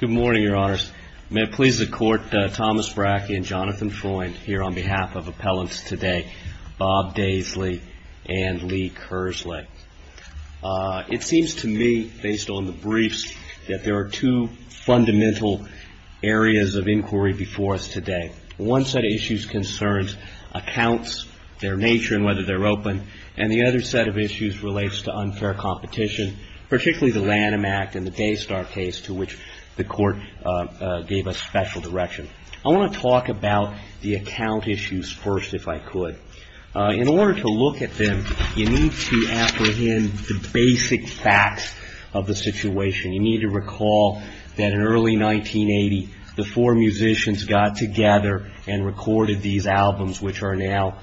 Good morning, Your Honors. May it please the Court, Thomas Brackey and Jonathan Freund here on behalf of Appellants Today, Bob Daisley and Lee Kersley. It seems to me, based on the briefs, that there are two fundamental areas of inquiry before us today. One set of issues concerns accounts, their nature and whether they're open, and the other set of issues relates to unfair competition, particularly the Lanham Act and the Daystar case to which the Court gave us special direction. I want to talk about the account issues first, if I could. In order to look at them, you need to apprehend the basic facts of the situation. You need to recall that in early 1980, the four musicians got together and recorded these albums, which are now,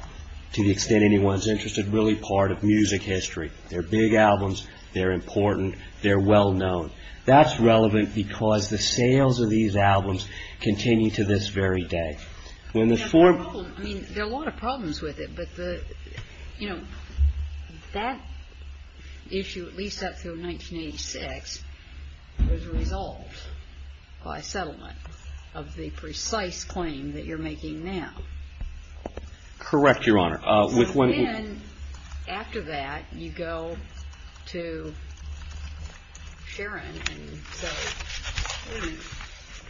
to the extent anyone's interested, really part of music history. They're big albums. They're important. They're well known. That's relevant because the sales of these albums continue to this very day. When the four... I mean, there are a lot of problems with it, but the, you know, that issue, at least up through 1986, was resolved by settlement of the precise claim that you're making now. Correct, Your Honor. Then, after that, you go to Sharon and say,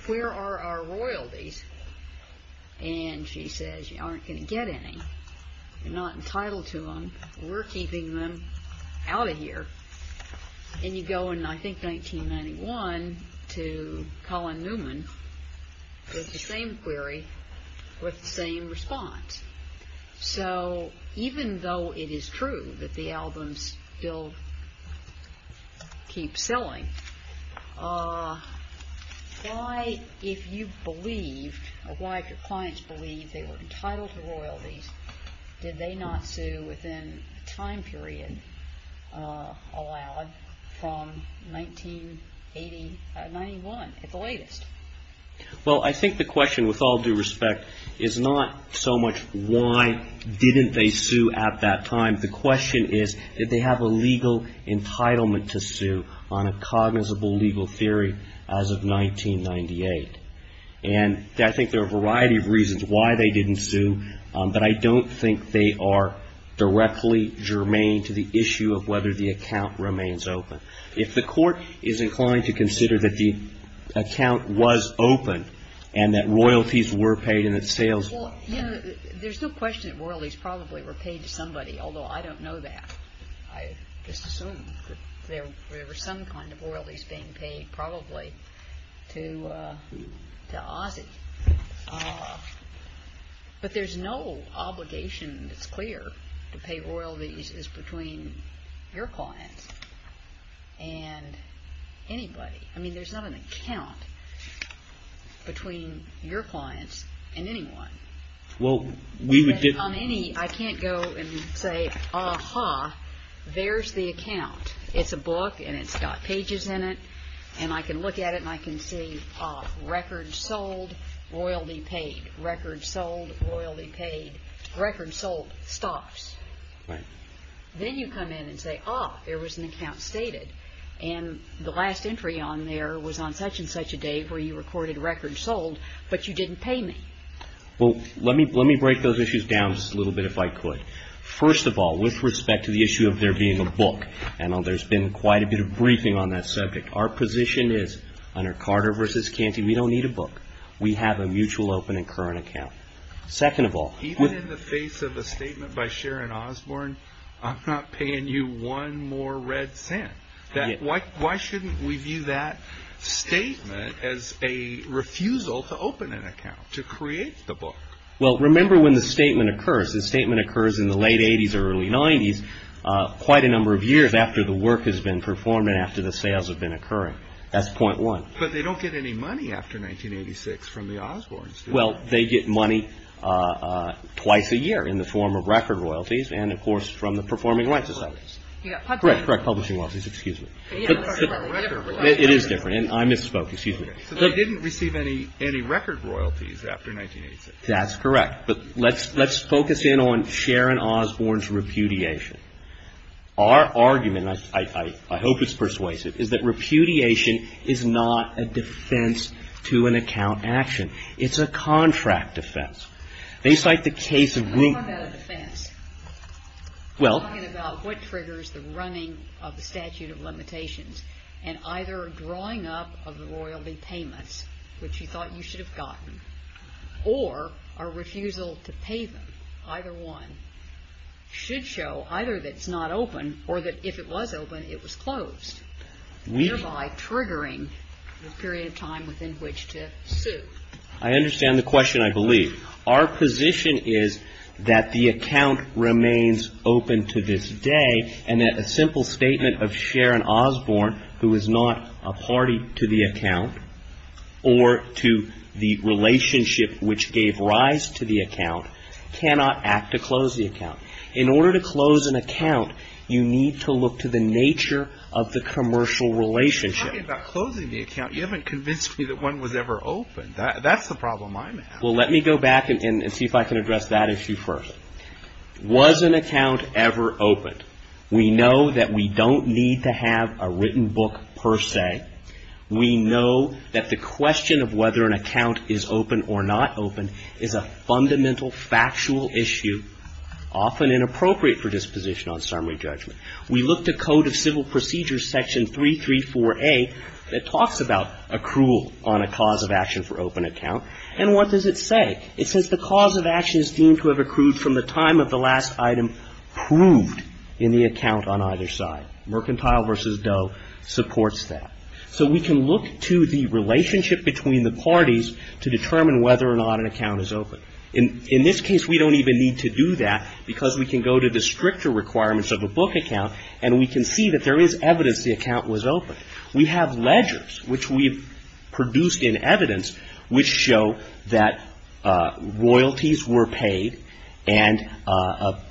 where are our royalties? And she says, you aren't going to get any. You're not entitled to them. We're keeping them out of here. And you go in, I think, 1991 to Colin Newman with the same query with the same response. So, even though it is true that the albums still keep selling, why, if you believed, or why did your clients believe they were entitled to royalties, did they not sue within the time period allowed from 1981 at the latest? Well, I think the question, with all due respect, is not so much why didn't they sue at that time. The question is, did they have a legal entitlement to sue on a cognizable legal theory as of 1998? And I think there are a variety of reasons why they didn't sue, but I don't think they are directly germane to the issue of whether the account remains open. If the court is inclined to consider that the account was open and that royalties were paid and that sales were paid. Well, you know, there's no question that royalties probably were paid to somebody, although I don't know that. I just assume that there were some kind of royalties being paid, probably, to Ozzie. But there's no obligation, it's clear, to pay royalties between your clients and anybody. I mean, there's not an account between your clients and anyone. I can't go and say, aha, there's the account. It's a book and it's got pages in it, and I can look at it and I can see records sold, royalty paid, records sold, royalty paid, records sold, stops. Then you come in and say, ah, there was an account stated, and the last entry on there was on such and such a day where you recorded records sold, but you didn't pay me. Well, let me break those issues down just a little bit if I could. First of all, with respect to the issue of there being a book, I know there's been quite a bit of briefing on that subject. Our position is, under Carter v. Canty, we don't need a book. We have a mutual open and current account. Second of all, even in the face of a statement by Sharon Osborne, I'm not paying you one more red cent. Why shouldn't we view that statement as a refusal to open an account, to create the book? Well, remember when the statement occurs. The statement occurs in the late 80s, early 90s, quite a number of years after the work has been performed and after the sales have been occurring. That's point one. But they don't get any money after 1986 from the Osbornes, do they? Well, they get money twice a year in the form of record royalties and, of course, from the Performing Rights Society. Correct. Correct. Publishing royalties. Excuse me. It is different, and I misspoke. Excuse me. They didn't receive any record royalties after 1986. That's correct. But let's focus in on Sharon Osborne's repudiation. Our argument, and I hope it's persuasive, is that repudiation is not a defense to an account action. It's a contract defense. I'm talking about a defense. I'm talking about what triggers the running of the statute of limitations and either drawing up of the royalty payments, which you thought you should have gotten, or a refusal to pay them, either one, should show either that it's not open or that if it was open, it was closed, thereby triggering the period of time within which to sue. I understand the question, I believe. Our position is that the account remains open to this day and that a simple statement of Sharon Osborne, who is not a party to the account or to the relationship which gave rise to the account, cannot act to close the account. In order to close an account, you need to look to the nature of the commercial relationship. You're talking about closing the account. You haven't convinced me that one was ever open. That's the problem I'm having. Well, let me go back and see if I can address that issue first. Was an account ever opened? We know that we don't need to have a written book per se. We know that the question of whether an account is open or not open is a fundamental, factual issue, often inappropriate for disposition on summary judgment. We look to Code of Civil Procedures Section 334A that talks about accrual on a cause of action for open account. And what does it say? It says the cause of action is deemed to have accrued from the time of the last item proved in the account on either side. Mercantile versus Doe supports that. So we can look to the relationship between the parties to determine whether or not an account is open. In this case, we don't even need to do that because we can go to the stricter requirements of a book account and we can see that there is evidence the account was open. We have ledgers which we've produced in evidence which show that royalties were paid and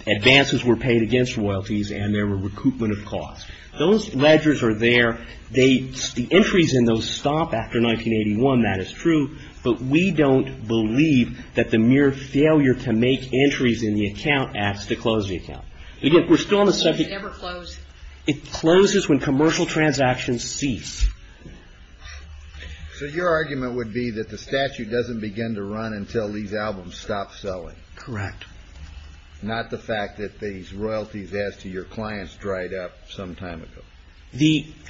advances were paid against royalties and there were recoupment of costs. Those ledgers are there. The entries in those stop after 1981. That is true. But we don't believe that the mere failure to make entries in the account acts to close the account. Again, we're still on the subject. It never closed. It closes when commercial transactions cease. So your argument would be that the statute doesn't begin to run until these albums stop selling. Correct. Not the fact that these royalties as to your clients dried up some time ago.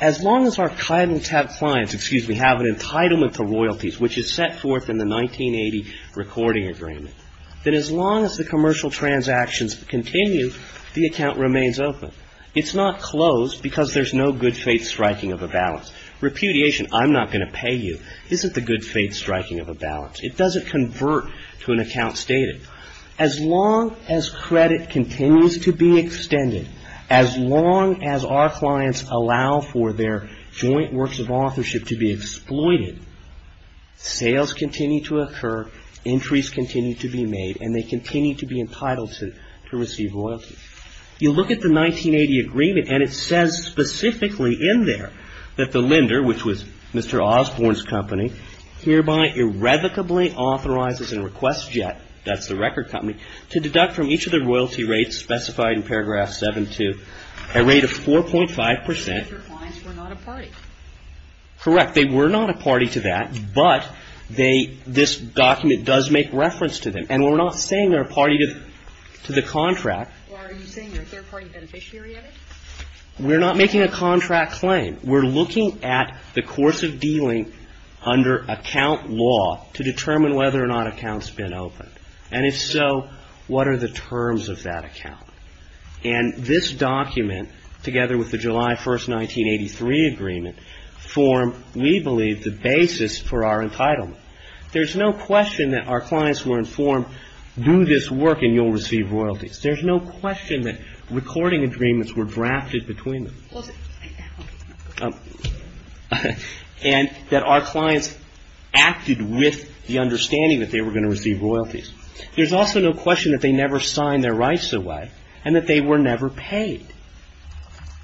As long as our clients have an entitlement to royalties which is set forth in the 1980 recording agreement, that as long as the commercial transactions continue, the account remains open. It's not closed because there's no good faith striking of a balance. Repudiation, I'm not going to pay you, isn't the good faith striking of a balance. It doesn't convert to an account stated. As long as credit continues to be extended, as long as our clients allow for their joint works of authorship to be exploited, sales continue to occur, entries continue to be made, and they continue to be entitled to receive royalties. You look at the 1980 agreement and it says specifically in there that the lender, which was Mr. Osborne's company, hereby irrevocably authorizes and requests JET, that's the record company, to deduct from each of the royalty rates specified in paragraph 7-2 a rate of 4.5 percent. Your clients were not a party. Correct. They were not a party to that, but this document does make reference to them. And we're not saying they're a party to the contract. Well, are you saying they're a third-party beneficiary of it? We're not making a contract claim. We're looking at the course of dealing under account law to determine whether or not accounts have been opened. And if so, what are the terms of that account? And this document, together with the July 1, 1983 agreement, form, we believe, the basis for our entitlement. There's no question that our clients were informed, do this work and you'll receive royalties. There's no question that recording agreements were drafted between them. And that our clients acted with the understanding that they were going to receive royalties. There's also no question that they never signed their rights away and that they were never paid.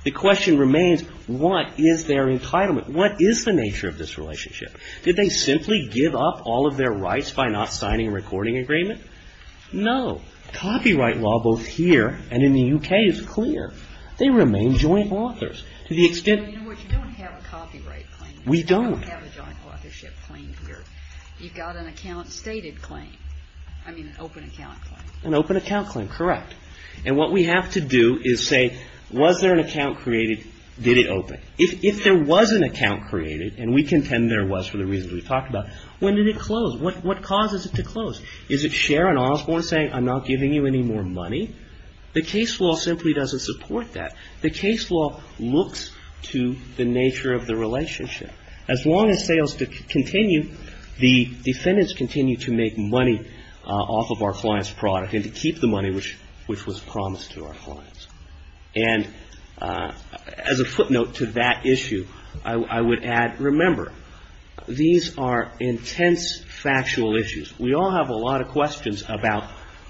The question remains, what is their entitlement? What is the nature of this relationship? Did they simply give up all of their rights by not signing a recording agreement? No. Copyright law, both here and in the UK, is clear. They remain joint authors. You know what, you don't have a copyright claim. We don't. You don't have a joint authorship claim here. You've got an account stated claim. I mean, an open account claim. An open account claim, correct. And what we have to do is say, was there an account created, did it open? If there was an account created, and we contend there was for the reasons we've talked about, when did it close? What causes it to close? Is it Sharon Osborne saying, I'm not giving you any more money? The case law simply doesn't support that. The case law looks to the nature of the relationship. As long as sales continue, the defendants continue to make money off of our client's product and to keep the money which was promised to our clients. And as a footnote to that issue, I would add, remember, these are intense factual issues. We all have a lot of questions about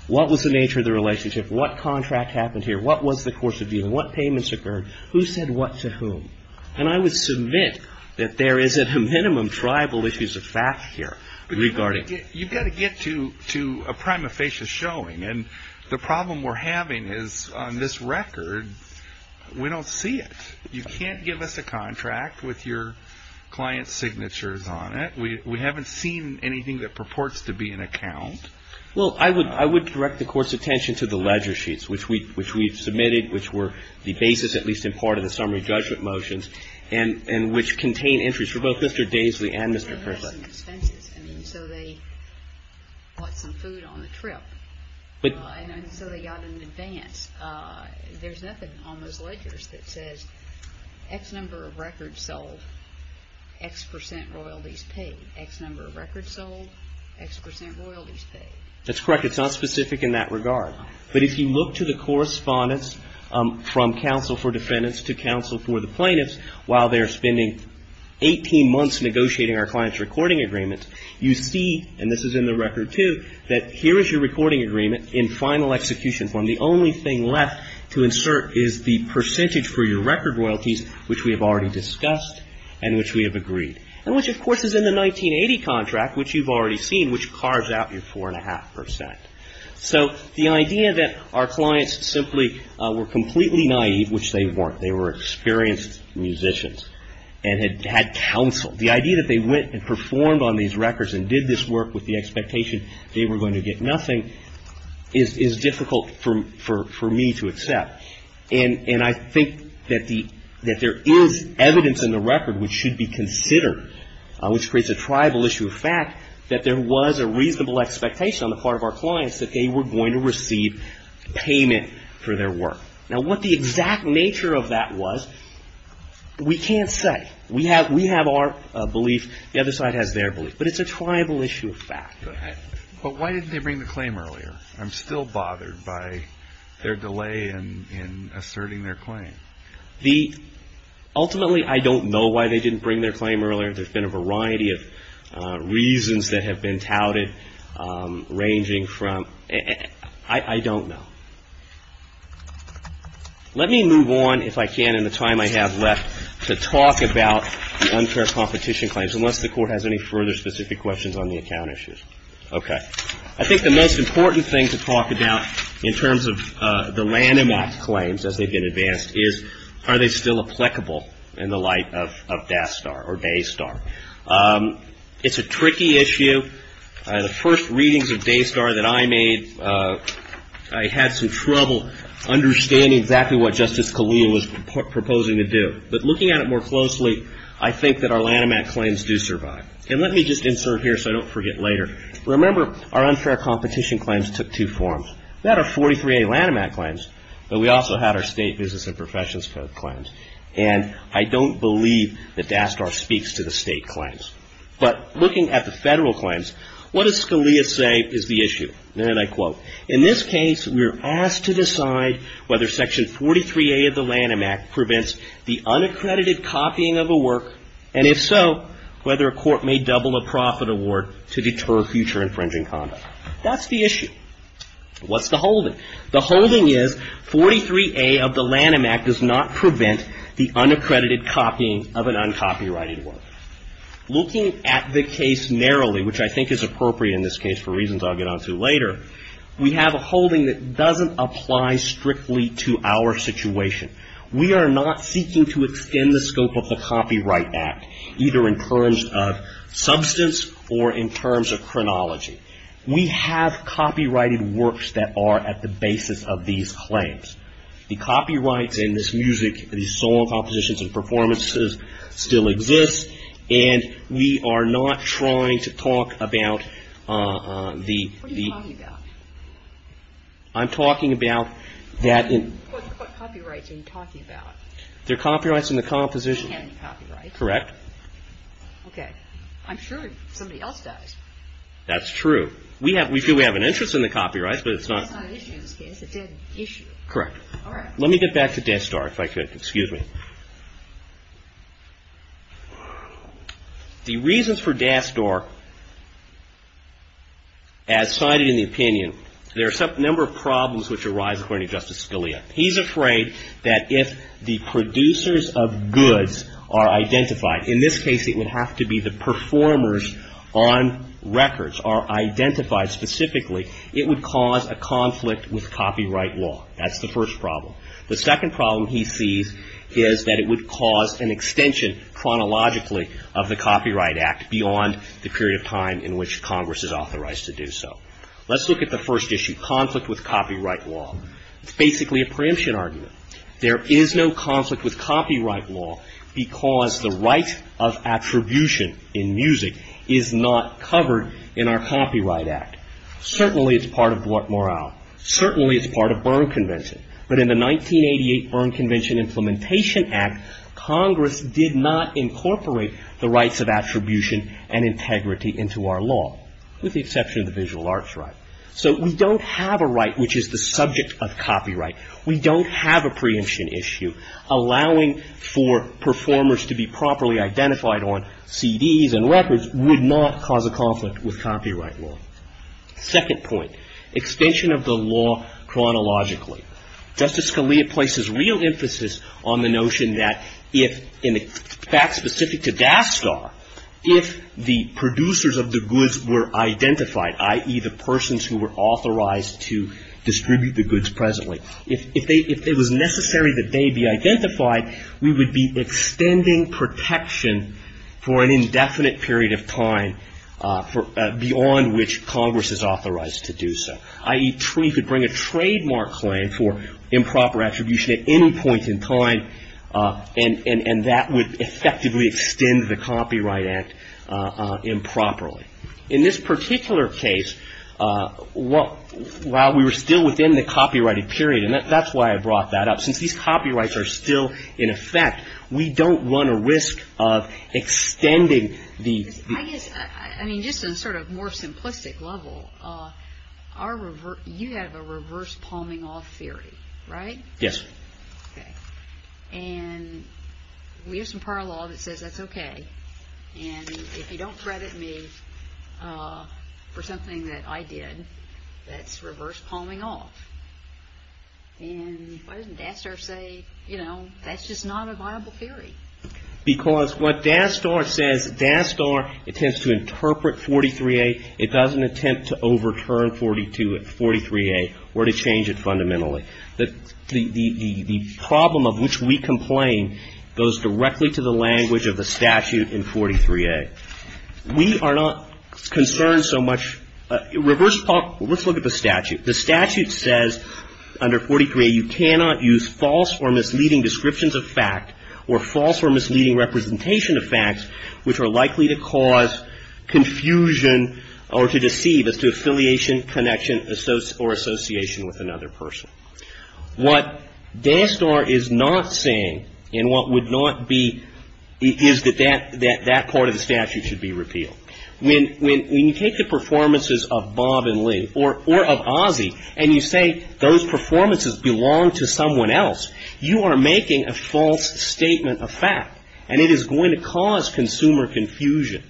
what was the nature of the relationship? What contract happened here? What was the course of dealing? What payments occurred? Who said what to whom? And I would submit that there is at a minimum tribal issues of fact here regarding. You've got to get to a prima facie showing. And the problem we're having is, on this record, we don't see it. You can't give us a contract with your client's signatures on it. We haven't seen anything that purports to be an account. Well, I would direct the Court's attention to the ledger sheets, which we've submitted, which were the basis, at least in part, of the summary judgment motions, and which contain entries for both Mr. Daisley and Mr. Pritchett. They had some expenses. I mean, so they bought some food on the trip. And so they got an advance. There's nothing on those ledgers that says, X number of records sold, X percent royalties paid. X number of records sold, X percent royalties paid. That's correct. It's not specific in that regard. But if you look to the correspondence from counsel for defendants to counsel for the plaintiffs, while they're spending 18 months negotiating our client's recording agreements, you see, and this is in the record too, that here is your recording agreement in final execution form. The only thing left to insert is the percentage for your record royalties, which we have already discussed and which we have agreed, and which, of course, is in the 1980 contract, which you've already seen, which carves out your 4.5 percent. So the idea that our clients simply were completely naive, which they weren't. They were experienced musicians and had counsel. The idea that they went and performed on these records and did this work with the expectation they were going to get nothing is difficult for me to accept. And I think that there is evidence in the record which should be considered, which creates a tribal issue of fact, that there was a reasonable expectation on the part of our clients that they were going to receive payment for their work. Now, what the exact nature of that was, we can't say. We have our belief. The other side has their belief. But it's a tribal issue of fact. But why didn't they bring the claim earlier? I'm still bothered by their delay in asserting their claim. Ultimately, I don't know why they didn't bring their claim earlier. There's been a variety of reasons that have been touted ranging from – I don't know. Let me move on, if I can, in the time I have left, to talk about the unfair competition claims, unless the Court has any further specific questions on the account issues. Okay. I think the most important thing to talk about in terms of the Lanham Act claims, as they've been advanced, is are they still applicable in the light of DASTAR or DASTAR? It's a tricky issue. The first readings of DASTAR that I made, I had some trouble understanding exactly what Justice Scalia was proposing to do. But looking at it more closely, I think that our Lanham Act claims do survive. And let me just insert here so I don't forget later. Remember, our unfair competition claims took two forms. We had our 43A Lanham Act claims, but we also had our state business and professions code claims. And I don't believe that DASTAR speaks to the state claims. But looking at the federal claims, what does Scalia say is the issue? In this case, we are asked to decide whether Section 43A of the Lanham Act prevents the unaccredited copying of a work, and if so, whether a court may double a profit award to deter future infringing conduct. That's the issue. What's the holding? The holding is 43A of the Lanham Act does not prevent the unaccredited copying of an uncopyrighted work. Looking at the case narrowly, which I think is appropriate in this case for reasons I'll get onto later, we have a holding that doesn't apply strictly to our situation. We are not seeking to extend the scope of the Copyright Act, either in terms of substance or in terms of chronology. We have copyrighted works that are at the basis of these claims. The copyrights in this music, these solo compositions and performances still exist, and we are not trying to talk about the... What are you talking about? I'm talking about that... What copyrights are you talking about? They're copyrights in the composition. We don't have any copyrights. Correct. Okay. I'm sure somebody else does. That's true. It's not an issue in this case. It is an issue. Correct. All right. Let me get back to Dasdor, if I could. Excuse me. The reasons for Dasdor, as cited in the opinion, there are a number of problems which arise, according to Justice Scalia. He's afraid that if the producers of goods are identified, in this case it would have to be the performers on records are identified specifically, it would cause a conflict with copyright law. That's the first problem. The second problem he sees is that it would cause an extension, chronologically, of the Copyright Act beyond the period of time in which Congress is authorized to do so. Let's look at the first issue, conflict with copyright law. It's basically a preemption argument. There is no conflict with copyright law because the right of attribution in music is not covered in our Copyright Act. Certainly it's part of Bort Morale. Certainly it's part of Byrne Convention. But in the 1988 Byrne Convention Implementation Act, Congress did not incorporate the rights of attribution and integrity into our law, with the exception of the visual arts right. So we don't have a right which is the subject of copyright. We don't have a preemption issue. Allowing for performers to be properly identified on CDs and records would not cause a conflict with copyright law. Second point, extension of the law chronologically. Justice Scalia places real emphasis on the notion that if, in the facts specific to Daskar, if the producers of the goods were identified, i.e., the persons who were authorized to distribute the goods presently, if it was necessary that they be identified, we would be extending protection for an indefinite period of time beyond which Congress is authorized to do so. I.e., we could bring a trademark claim for improper attribution at any point in time, and that would effectively extend the Copyright Act improperly. In this particular case, while we were still within the copyrighted period, and that's why I brought that up, since these copyrights are still in effect, we don't run a risk of extending the... I guess, I mean, just on a sort of more simplistic level, you have a reverse-palming-off theory, right? Yes. Okay. And we have some prior law that says that's okay. And if you don't credit me for something that I did, that's reverse-palming-off. And why doesn't Daskar say, you know, that's just not a viable theory? Because what Daskar says, Daskar intends to interpret 43A. It doesn't attempt to overturn 43A or to change it fundamentally. The problem of which we complain goes directly to the language of the statute in 43A. We are not concerned so much... Reverse-palming. Let's look at the statute. The statute says under 43A you cannot use false or misleading descriptions of fact or false or misleading representation of facts which are likely to cause confusion or to deceive as to affiliation, connection, or association with another person. What Daskar is not saying and what would not be is that that part of the statute should be repealed. When you take the performances of Bob and Lee or of Ozzie and you say those performances belong to someone else, you are making a false statement of fact, and it is going to cause consumer confusion.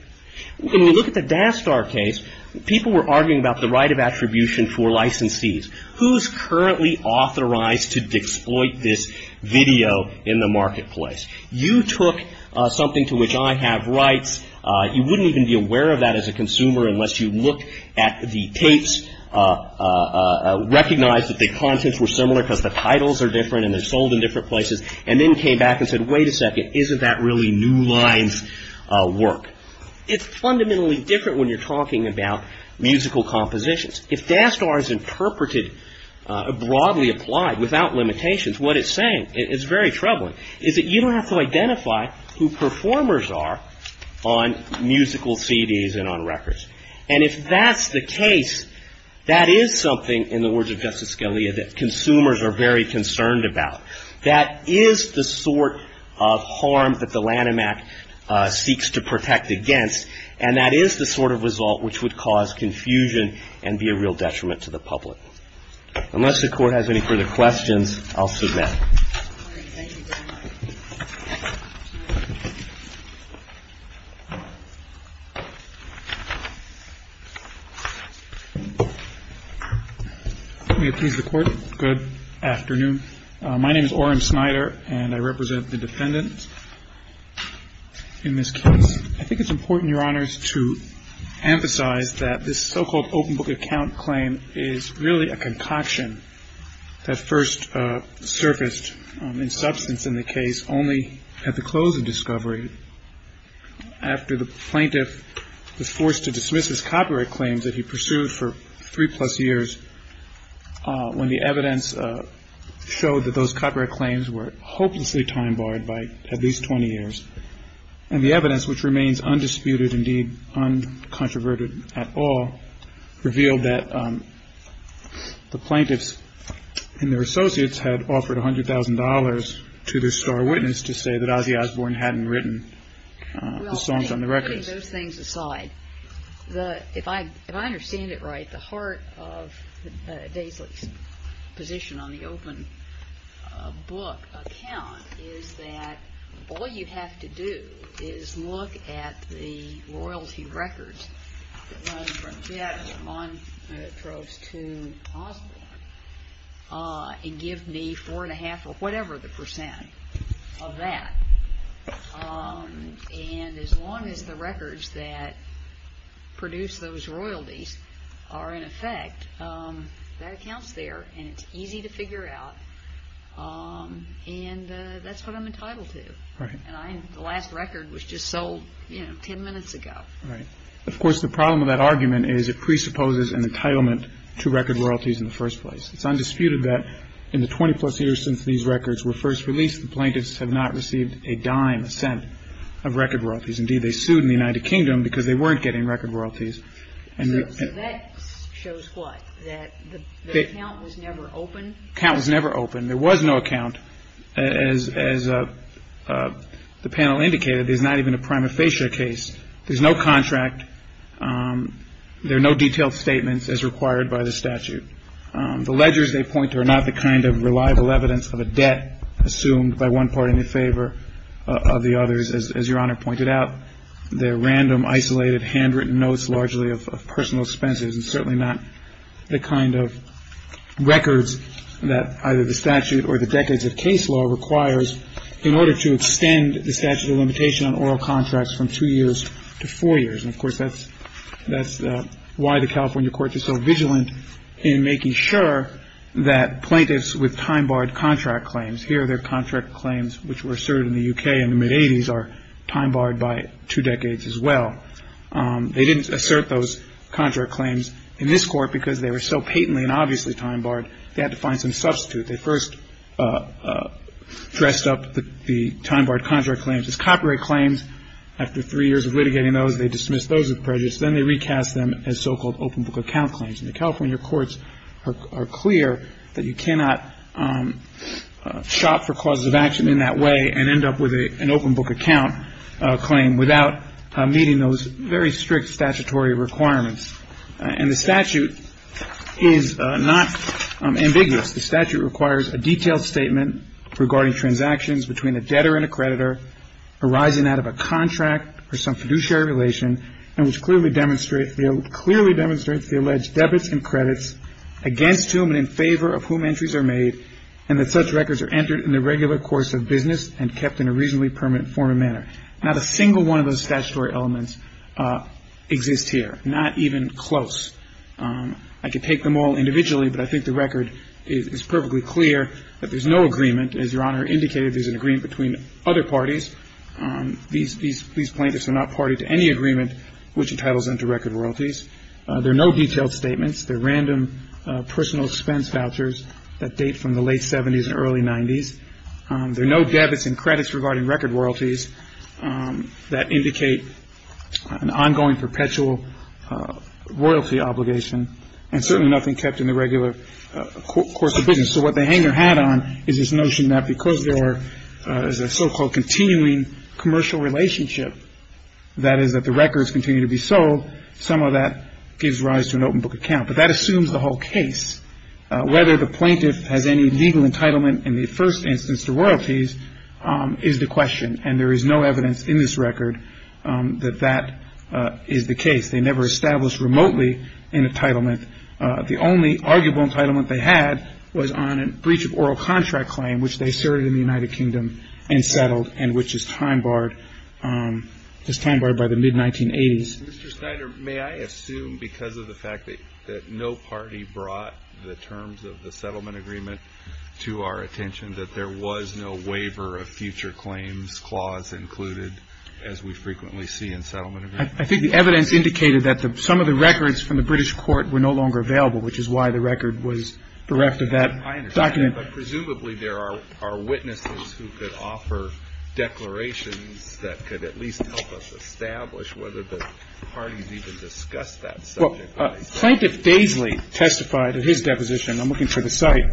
When you look at the Daskar case, people were arguing about the right of attribution for licensees. Who is currently authorized to exploit this video in the marketplace? You took something to which I have rights. You wouldn't even be aware of that as a consumer unless you looked at the tapes, recognized that the contents were similar because the titles are different and they're sold in different places, and then came back and said, wait a second, isn't that really New Line's work? It's fundamentally different when you're talking about musical compositions. If Daskar is interpreted, broadly applied, without limitations, what it's saying is very troubling, is that you don't have to identify who performers are on musical CDs and on records. And if that's the case, that is something, in the words of Justice Scalia, that consumers are very concerned about. That is the sort of harm that the Lanham Act seeks to protect against, and that is the sort of result which would cause confusion and be a real detriment to the public. Unless the Court has any further questions, I'll submit. Thank you, Daniel. Let me appease the Court. Good afternoon. My name is Oren Snyder, and I represent the defendants in this case. I think it's important, Your Honors, to emphasize that this so-called open book account claim is really a concoction that first surfaced in substance in the case only at the close of discovery after the plaintiff was forced to dismiss his copyright claims that he pursued for three-plus years when the evidence showed that those copyright claims were hopelessly time-barred by at least 20 years. And the evidence, which remains undisputed, indeed uncontroverted at all, revealed that the plaintiffs and their associates had offered $100,000 to their star witness to say that Ozzy Osbourne hadn't written the songs on the records. Well, putting those things aside, if I understand it right, at the heart of Daisley's position on the open book account is that all you have to do is look at the royalty records that run from Fiat, Montrose, to Osbourne and give me four and a half or whatever the percent of that. And as long as the records that produce those royalties are in effect, that accounts there and it's easy to figure out, and that's what I'm entitled to. Right. And the last record was just sold, you know, 10 minutes ago. Right. Of course, the problem with that argument is it presupposes an entitlement to record royalties in the first place. It's undisputed that in the 20-plus years since these records were first released, the plaintiffs have not received a dime a cent of record royalties. Indeed, they sued in the United Kingdom because they weren't getting record royalties. So that shows what? That the account was never open? The account was never open. There was no account. As the panel indicated, there's not even a prima facie case. There's no contract. There are no detailed statements as required by the statute. The ledgers they point to are not the kind of reliable evidence of a debt assumed by one party in favor of the others, as Your Honor pointed out. They're random, isolated, handwritten notes largely of personal expenses and certainly not the kind of records that either the statute or the decades of case law requires in order to extend the statute of limitation on oral contracts from two years to four years. And, of course, that's why the California courts are so vigilant in making sure that plaintiffs with time-barred contract claims, here their contract claims which were asserted in the U.K. in the mid-'80s are time-barred by two decades as well. They didn't assert those contract claims in this court because they were so patently and obviously time-barred, they had to find some substitute. They first dressed up the time-barred contract claims as copyright claims. After three years of litigating those, they dismissed those with prejudice. Then they recast them as so-called open book account claims. And the California courts are clear that you cannot shop for causes of action in that way and end up with an open book account claim without meeting those very strict statutory requirements. And the statute is not ambiguous. The statute requires a detailed statement regarding transactions between a debtor and a creditor arising out of a contract or some fiduciary relation and which clearly demonstrates the alleged debits and credits against whom and in favor of whom entries are made and that such records are entered in the regular course of business and kept in a reasonably permanent form and manner. Not a single one of those statutory elements exists here, not even close. I could take them all individually, but I think the record is perfectly clear that there's no agreement. As Your Honor indicated, there's an agreement between other parties. These plaintiffs are not party to any agreement which entitles them to record royalties. There are no detailed statements. They're random personal expense vouchers that date from the late 70s and early 90s. There are no debits and credits regarding record royalties that indicate an ongoing perpetual royalty obligation and certainly nothing kept in the regular course of business. So what the hanger hat on is this notion that because there is a so-called continuing commercial relationship, that is that the records continue to be sold, some of that gives rise to an open book account. But that assumes the whole case. Whether the plaintiff has any legal entitlement in the first instance to royalties is the question, and there is no evidence in this record that that is the case. They never established remotely an entitlement. The only arguable entitlement they had was on a breach of oral contract claim, which they asserted in the United Kingdom and settled and which is time-barred by the mid-1980s. Mr. Snyder, may I assume because of the fact that no party brought the terms of the settlement agreement to our attention that there was no waiver of future claims clause included as we frequently see in settlement agreements? I think the evidence indicated that some of the records from the British court were no longer available, which is why the record was bereft of that document. I understand that, but presumably there are witnesses who could offer declarations that could at least help us establish whether the parties even discussed that subject. Well, Plaintiff Daisley testified at his deposition, and I'm looking for the site,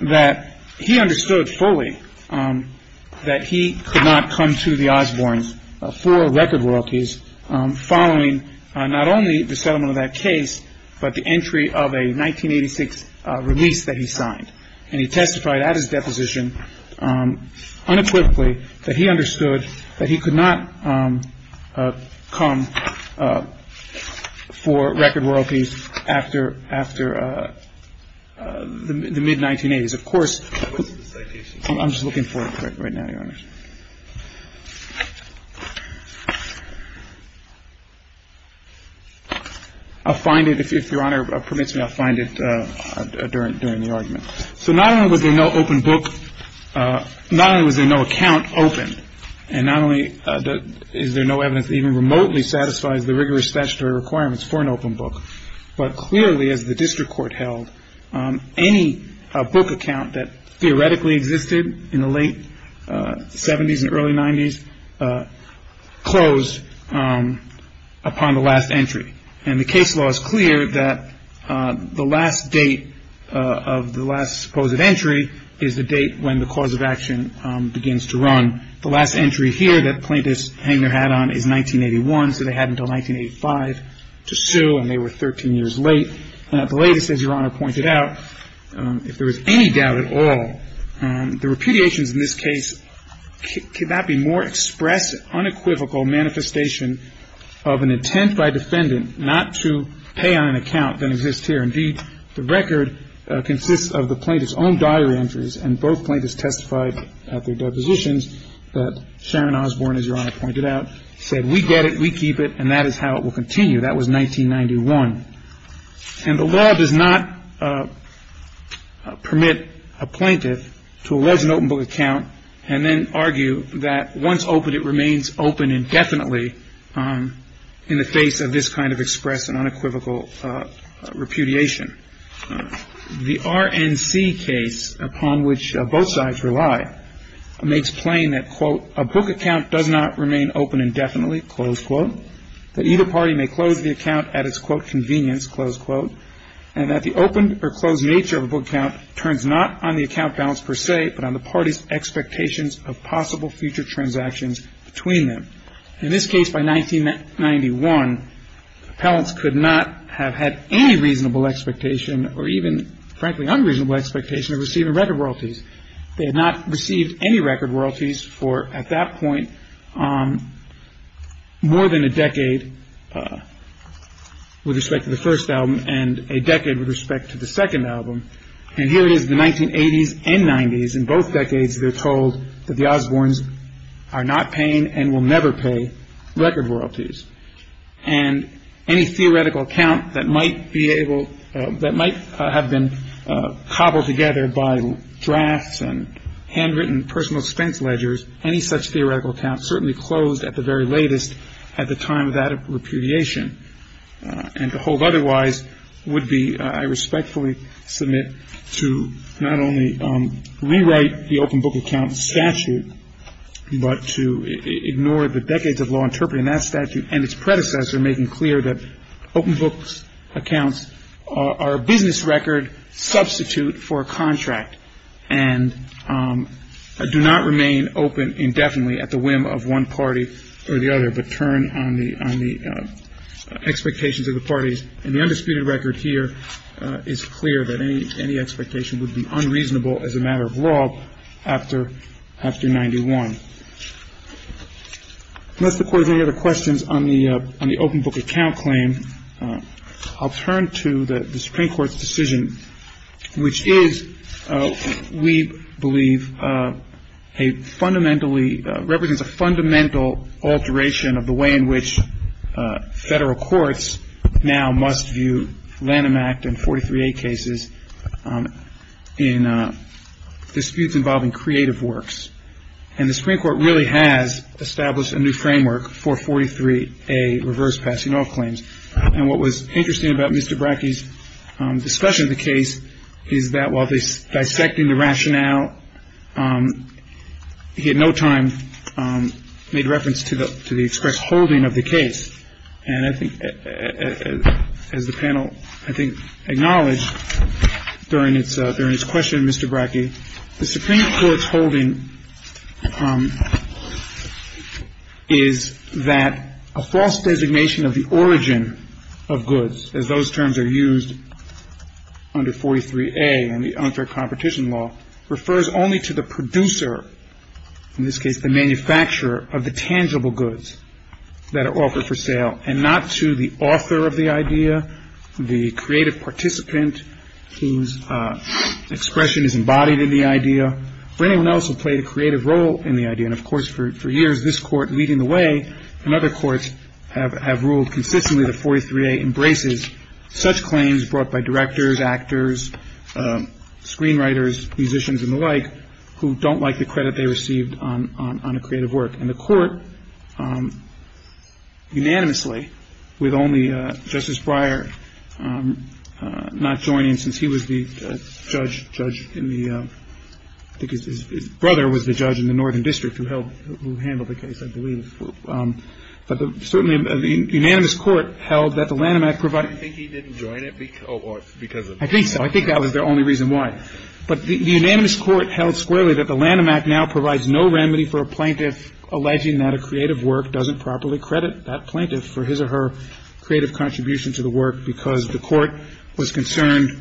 that he understood fully that he could not come to the Osbournes for record royalties following not only the settlement of that case but the entry of a 1986 release that he signed. And he testified at his deposition unequivocally that he understood that he could not come for record royalties after the mid-1980s. Of course, I'm just looking for it right now, Your Honor. I'll find it. If Your Honor permits me, I'll find it during the argument. So not only was there no open book, not only was there no account open, and not only is there no evidence that even remotely satisfies the rigorous statutory requirements for an open book, but clearly, as the district court held, any book account that theoretically existed in the late 70s and early 90s closed upon the last entry. And the case law is clear that the last date of the last supposed entry is the date when the cause of action begins to run. The last entry here that Plaintiff Hangner had on is 1981, so they had until 1985 to sue, and they were 13 years late. And at the latest, as Your Honor pointed out, if there was any doubt at all, the repudiations in this case could not be more express, unequivocal manifestation of an intent by defendant not to pay on an account than exists here. Indeed, the record consists of the plaintiff's own diary entries, and both plaintiffs testified at their depositions that Sharon Osborne, as Your Honor pointed out, said, we get it, we keep it, and that is how it will continue. That was 1991. And the law does not permit a plaintiff to allege an open book account and then argue that once opened, it remains open indefinitely in the face of this kind of express and unequivocal repudiation. The RNC case, upon which both sides rely, makes plain that, quote, a book account does not remain open indefinitely, close quote, that either party may close the account at its, quote, convenience, close quote, and that the open or closed nature of a book account turns not on the account balance per se, but on the party's expectations of possible future transactions between them. In this case, by 1991, appellants could not have had any reasonable expectation or even, frankly, unreasonable expectation of receiving record royalties. They had not received any record royalties for, at that point, more than a decade with respect to the first album and a decade with respect to the second album. And here it is, the 1980s and 90s, in both decades, they're told that the Osbornes are not paying and will never pay record royalties. And any theoretical account that might be able, that might have been cobbled together by drafts and handwritten personal expense ledgers, any such theoretical account certainly closed at the very latest at the time of that repudiation. And to hold otherwise would be, I respectfully submit, to not only rewrite the open book account statute, but to ignore the decades of law interpreting that statute and its predecessor making clear that open book accounts are a business record substitute for a contract and do not remain open indefinitely at the whim of one party or the other but turn on the expectations of the parties. And the undisputed record here is clear that any expectation would be unreasonable as a matter of law after 1991. Unless the court has any other questions on the open book account claim, I'll turn to the Supreme Court's decision, which is, we believe, a fundamentally, represents a fundamental alteration of the way in which federal courts now must view Lanham Act and 43A cases in disputes involving creative works. And the Supreme Court really has established a new framework for 43A reverse passing off claims. And what was interesting about Mr. Brackey's discussion of the case is that while dissecting the rationale, he at no time made reference to the express holding of the case. And I think, as the panel, I think, acknowledged during its question, Mr. Brackey, the Supreme Court's holding is that a false designation of the origin of goods, as those terms are used under 43A in the unfair competition law, refers only to the producer, in this case the manufacturer, of the tangible goods that are offered for sale and not to the author of the idea, the creative participant whose expression is embodied in the idea, or anyone else who played a creative role in the idea. And, of course, for years this Court, leading the way in other courts, have ruled consistently that 43A embraces such claims brought by directors, actors, screenwriters, musicians, and the like, who don't like the credit they received on a creative work. And the Court unanimously, with only Justice Breyer not joining since he was the judge in the – I think his brother was the judge in the Northern District who handled the case, I believe. But certainly the unanimous Court held that the Lanham Act provided – Do you think he didn't join it because of – I think so. I think that was the only reason why. But the unanimous Court held squarely that the Lanham Act now provides no remedy for a plaintiff alleging that a creative work doesn't properly credit that plaintiff for his or her creative contribution to the work because the Court was concerned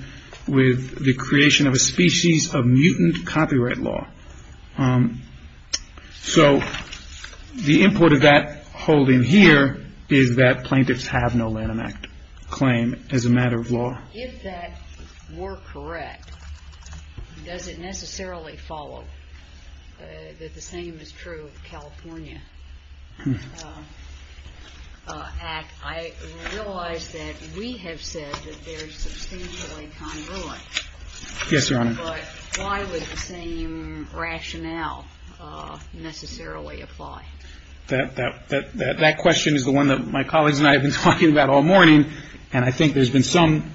with the creation of a species of mutant copyright law. So the import of that holding here is that plaintiffs have no Lanham Act claim as a matter of law. If that were correct, does it necessarily follow that the same is true of the California Act? I realize that we have said that they're substantially congruent. Yes, Your Honor. But why would the same rationale necessarily apply? That question is the one that my colleagues and I have been talking about all morning, and I think there's been some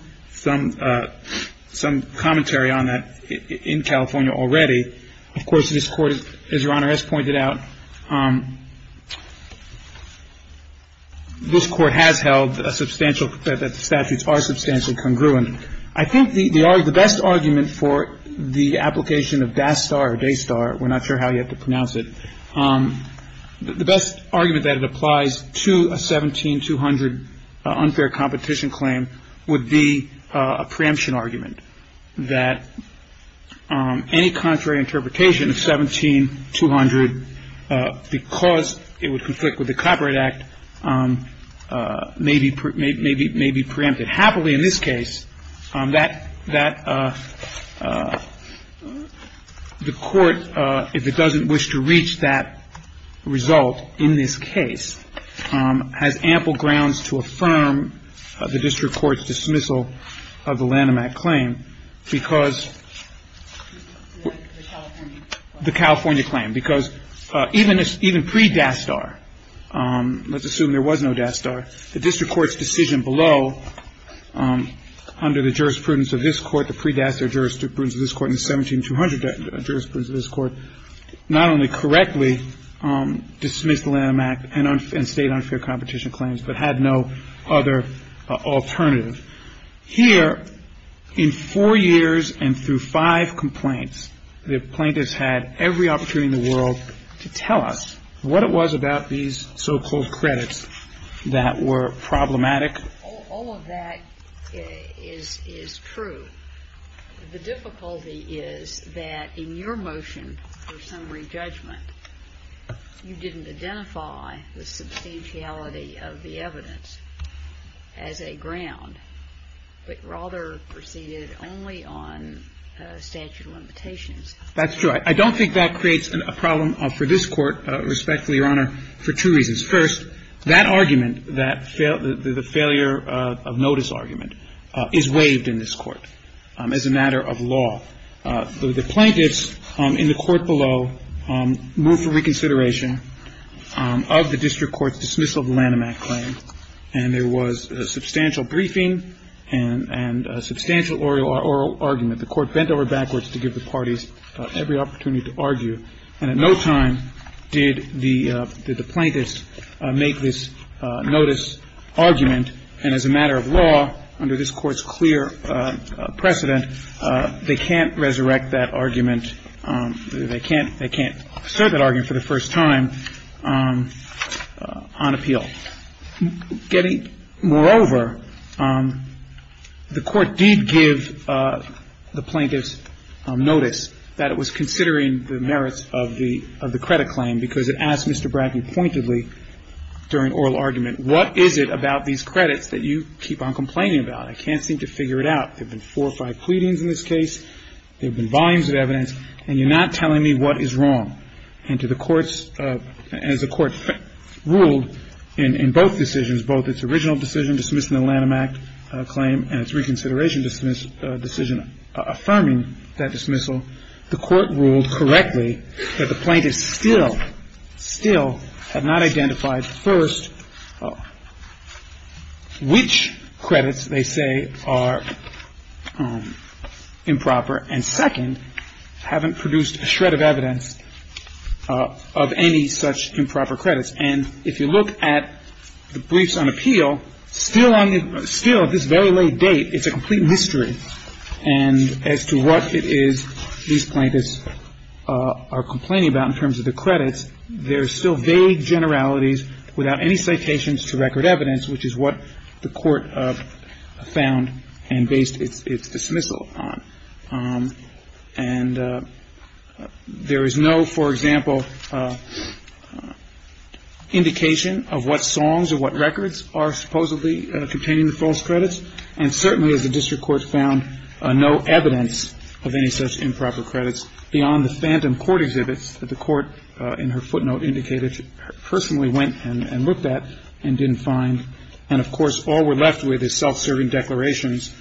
commentary on that in California already. Of course, this Court, as Your Honor has pointed out, this Court has held a substantial – that the statutes are substantially congruent. I think the best argument for the application of Dastar or Daystar – we're not sure how you have to pronounce it – the best argument that it applies to a 17-200 unfair competition claim would be a preemption argument, that any contrary interpretation of 17-200 because it would conflict with the Copyright Act may be preempted. Happily, in this case, that the Court, if it doesn't wish to reach that result in this case, has ample grounds to affirm the district court's dismissal of the Lanham Act claim because – The California claim. The California claim, because even pre-Dastar – let's assume there was no Dastar – the district court's decision below, under the jurisprudence of this Court, the pre-Dastar jurisprudence of this Court and the 17-200 jurisprudence of this Court, not only correctly dismissed the Lanham Act and state unfair competition claims, but had no other alternative. Here, in four years and through five complaints, the plaintiffs had every opportunity in the world to tell us what it was about these so-called credits that were problematic. All of that is true. The difficulty is that in your motion for summary judgment, you didn't identify the substantiality of the evidence as a ground, but rather proceeded only on statute of limitations. That's true. I don't think that creates a problem for this Court, respectfully, Your Honor, for two reasons. First, that argument, the failure of notice argument, is waived in this Court as a matter of law. The plaintiffs in the court below moved for reconsideration of the district court's dismissal of the Lanham Act claim, and there was a substantial briefing and a substantial oral argument. The court bent over backwards to give the parties every opportunity to argue, and at no time did the plaintiffs make this notice argument. And as a matter of law, under this Court's clear precedent, they can't resurrect that argument. They can't assert that argument for the first time on appeal. Moreover, the Court did give the plaintiffs notice that it was considering the merits of the credit claim because it asked Mr. Bracken pointedly during oral argument, what is it about these credits that you keep on complaining about? I can't seem to figure it out. There have been four or five pleadings in this case. There have been volumes of evidence, and you're not telling me what is wrong. And to the Court's – as the Court ruled in both decisions, both its original decision dismissing the Lanham Act claim and its reconsideration decision affirming that dismissal, the Court ruled correctly that the plaintiffs still, still have not identified, first, which credits they say are improper, and second, haven't produced a shred of evidence of any such improper credits. And if you look at the briefs on appeal, still on the – still at this very late date, it's a complete mystery. And as to what it is these plaintiffs are complaining about in terms of the credits, there are still vague generalities without any citations to record evidence, which is what the Court found and based its dismissal on. And there is no, for example, indication of what songs or what records are supposedly containing the false credits. And certainly as the district court found no evidence of any such improper credits beyond the phantom court exhibits that the court in her footnote indicated went and looked at and didn't find. And, of course, all we're left with is self-serving declarations,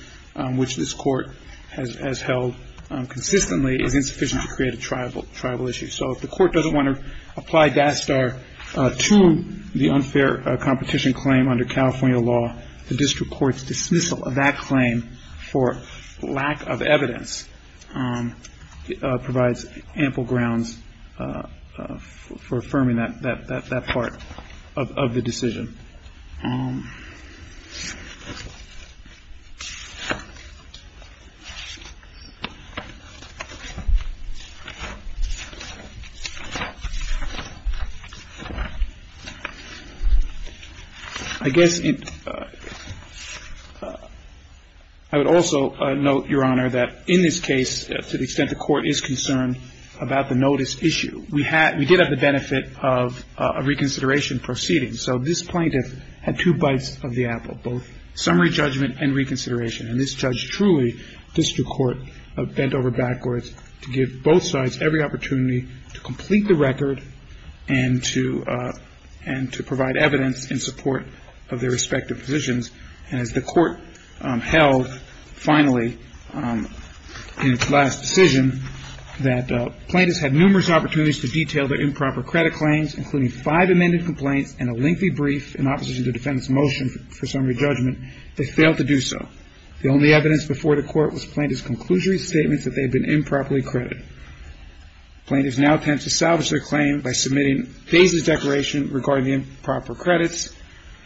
which this Court has held consistently is insufficient to create a triable issue. So if the Court doesn't want to apply DASTAR to the unfair competition claim under California law, the district court's dismissal of that claim for lack of evidence provides ample grounds for affirming that part of the decision. I guess I would also note, Your Honor, that in this case, to the extent the Court is concerned about the notice issue, we did have the benefit of a reconsideration proceeding. So this plaintiff had two bites of the apple, both summary judgment and reconsideration. And this judge truly, district court, bent over backwards to give both sides every opportunity to complete the record and to provide evidence in support of their respective positions. And as the Court held, finally, in its last decision, that plaintiffs had numerous opportunities to detail their improper credit claims, including five amended complaints and a lengthy brief in opposition to the defendant's motion for summary judgment, they failed to do so. The only evidence before the Court was plaintiff's conclusionary statements that they had been improperly credited. Plaintiffs now attempt to salvage their claim by submitting a basis declaration regarding the improper credits.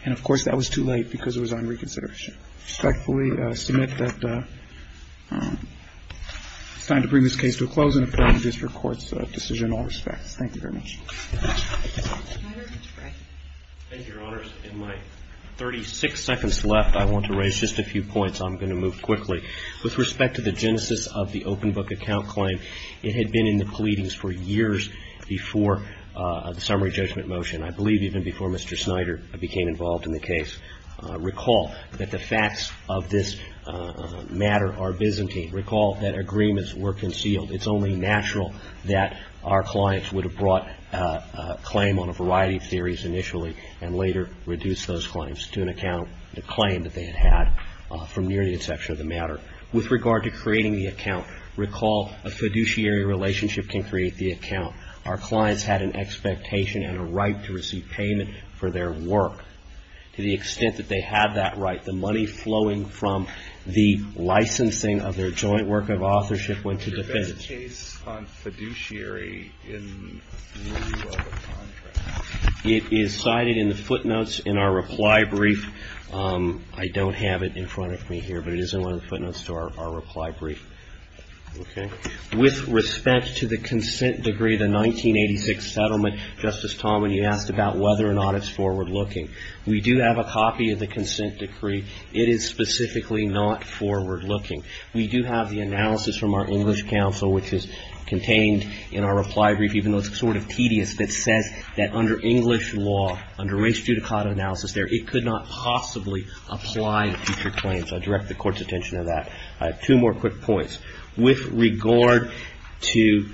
And, of course, that was too late because it was on reconsideration. I respectfully submit that it's time to bring this case to a close and apologize for Court's decision in all respects. Thank you very much. Thank you, Your Honors. In my 36 seconds left, I want to raise just a few points. I'm going to move quickly. With respect to the genesis of the open book account claim, it had been in the pleadings for years before the summary judgment motion. And I believe even before Mr. Snyder became involved in the case. Recall that the facts of this matter are Byzantine. Recall that agreements were concealed. It's only natural that our clients would have brought a claim on a variety of theories initially and later reduced those claims to an account, the claim that they had had from near the inception of the matter. With regard to creating the account, recall a fiduciary relationship can create the account. Our clients had an expectation and a right to receive payment for their work. To the extent that they had that right, the money flowing from the licensing of their joint work of authorship went to defendants. Was this case on fiduciary in lieu of a contract? It is cited in the footnotes in our reply brief. I don't have it in front of me here, but it is in one of the footnotes to our reply brief. Okay. With respect to the consent decree, the 1986 settlement, Justice Talmadge, you asked about whether or not it's forward-looking. We do have a copy of the consent decree. It is specifically not forward-looking. We do have the analysis from our English counsel, which is contained in our reply brief, even though it's sort of tedious, that says that under English law, under race judicata analysis there, it could not possibly apply to future claims. I direct the Court's attention to that. Two more quick points. With regard to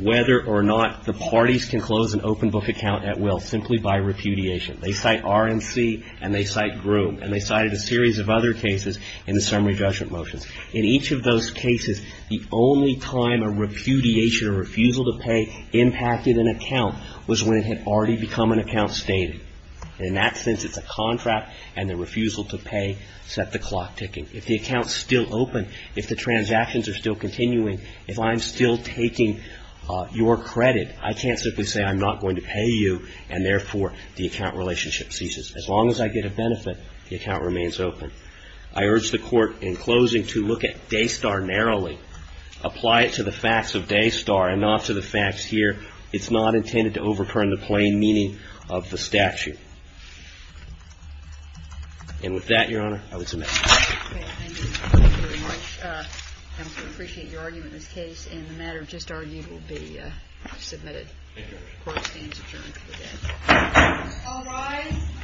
whether or not the parties can close an open book account at will simply by repudiation. They cite RNC, and they cite Groom, and they cited a series of other cases in the summary judgment motions. In each of those cases, the only time a repudiation or refusal to pay impacted an account was when it had already become an account stated. In that sense, it's a contract, and the refusal to pay set the clock ticking. If the account's still open, if the transactions are still continuing, if I'm still taking your credit, I can't simply say I'm not going to pay you, and therefore, the account relationship ceases. As long as I get a benefit, the account remains open. I urge the Court in closing to look at Daystar narrowly, apply it to the facts of Daystar and not to the facts here. It's not intended to overturn the plain meaning of the statute. And with that, Your Honor, I would submit. Thank you. Thank you very much. I also appreciate your argument in this case, and the matter just argued will be submitted. Thank you, Your Honor. Court stands adjourned for the day. All rise.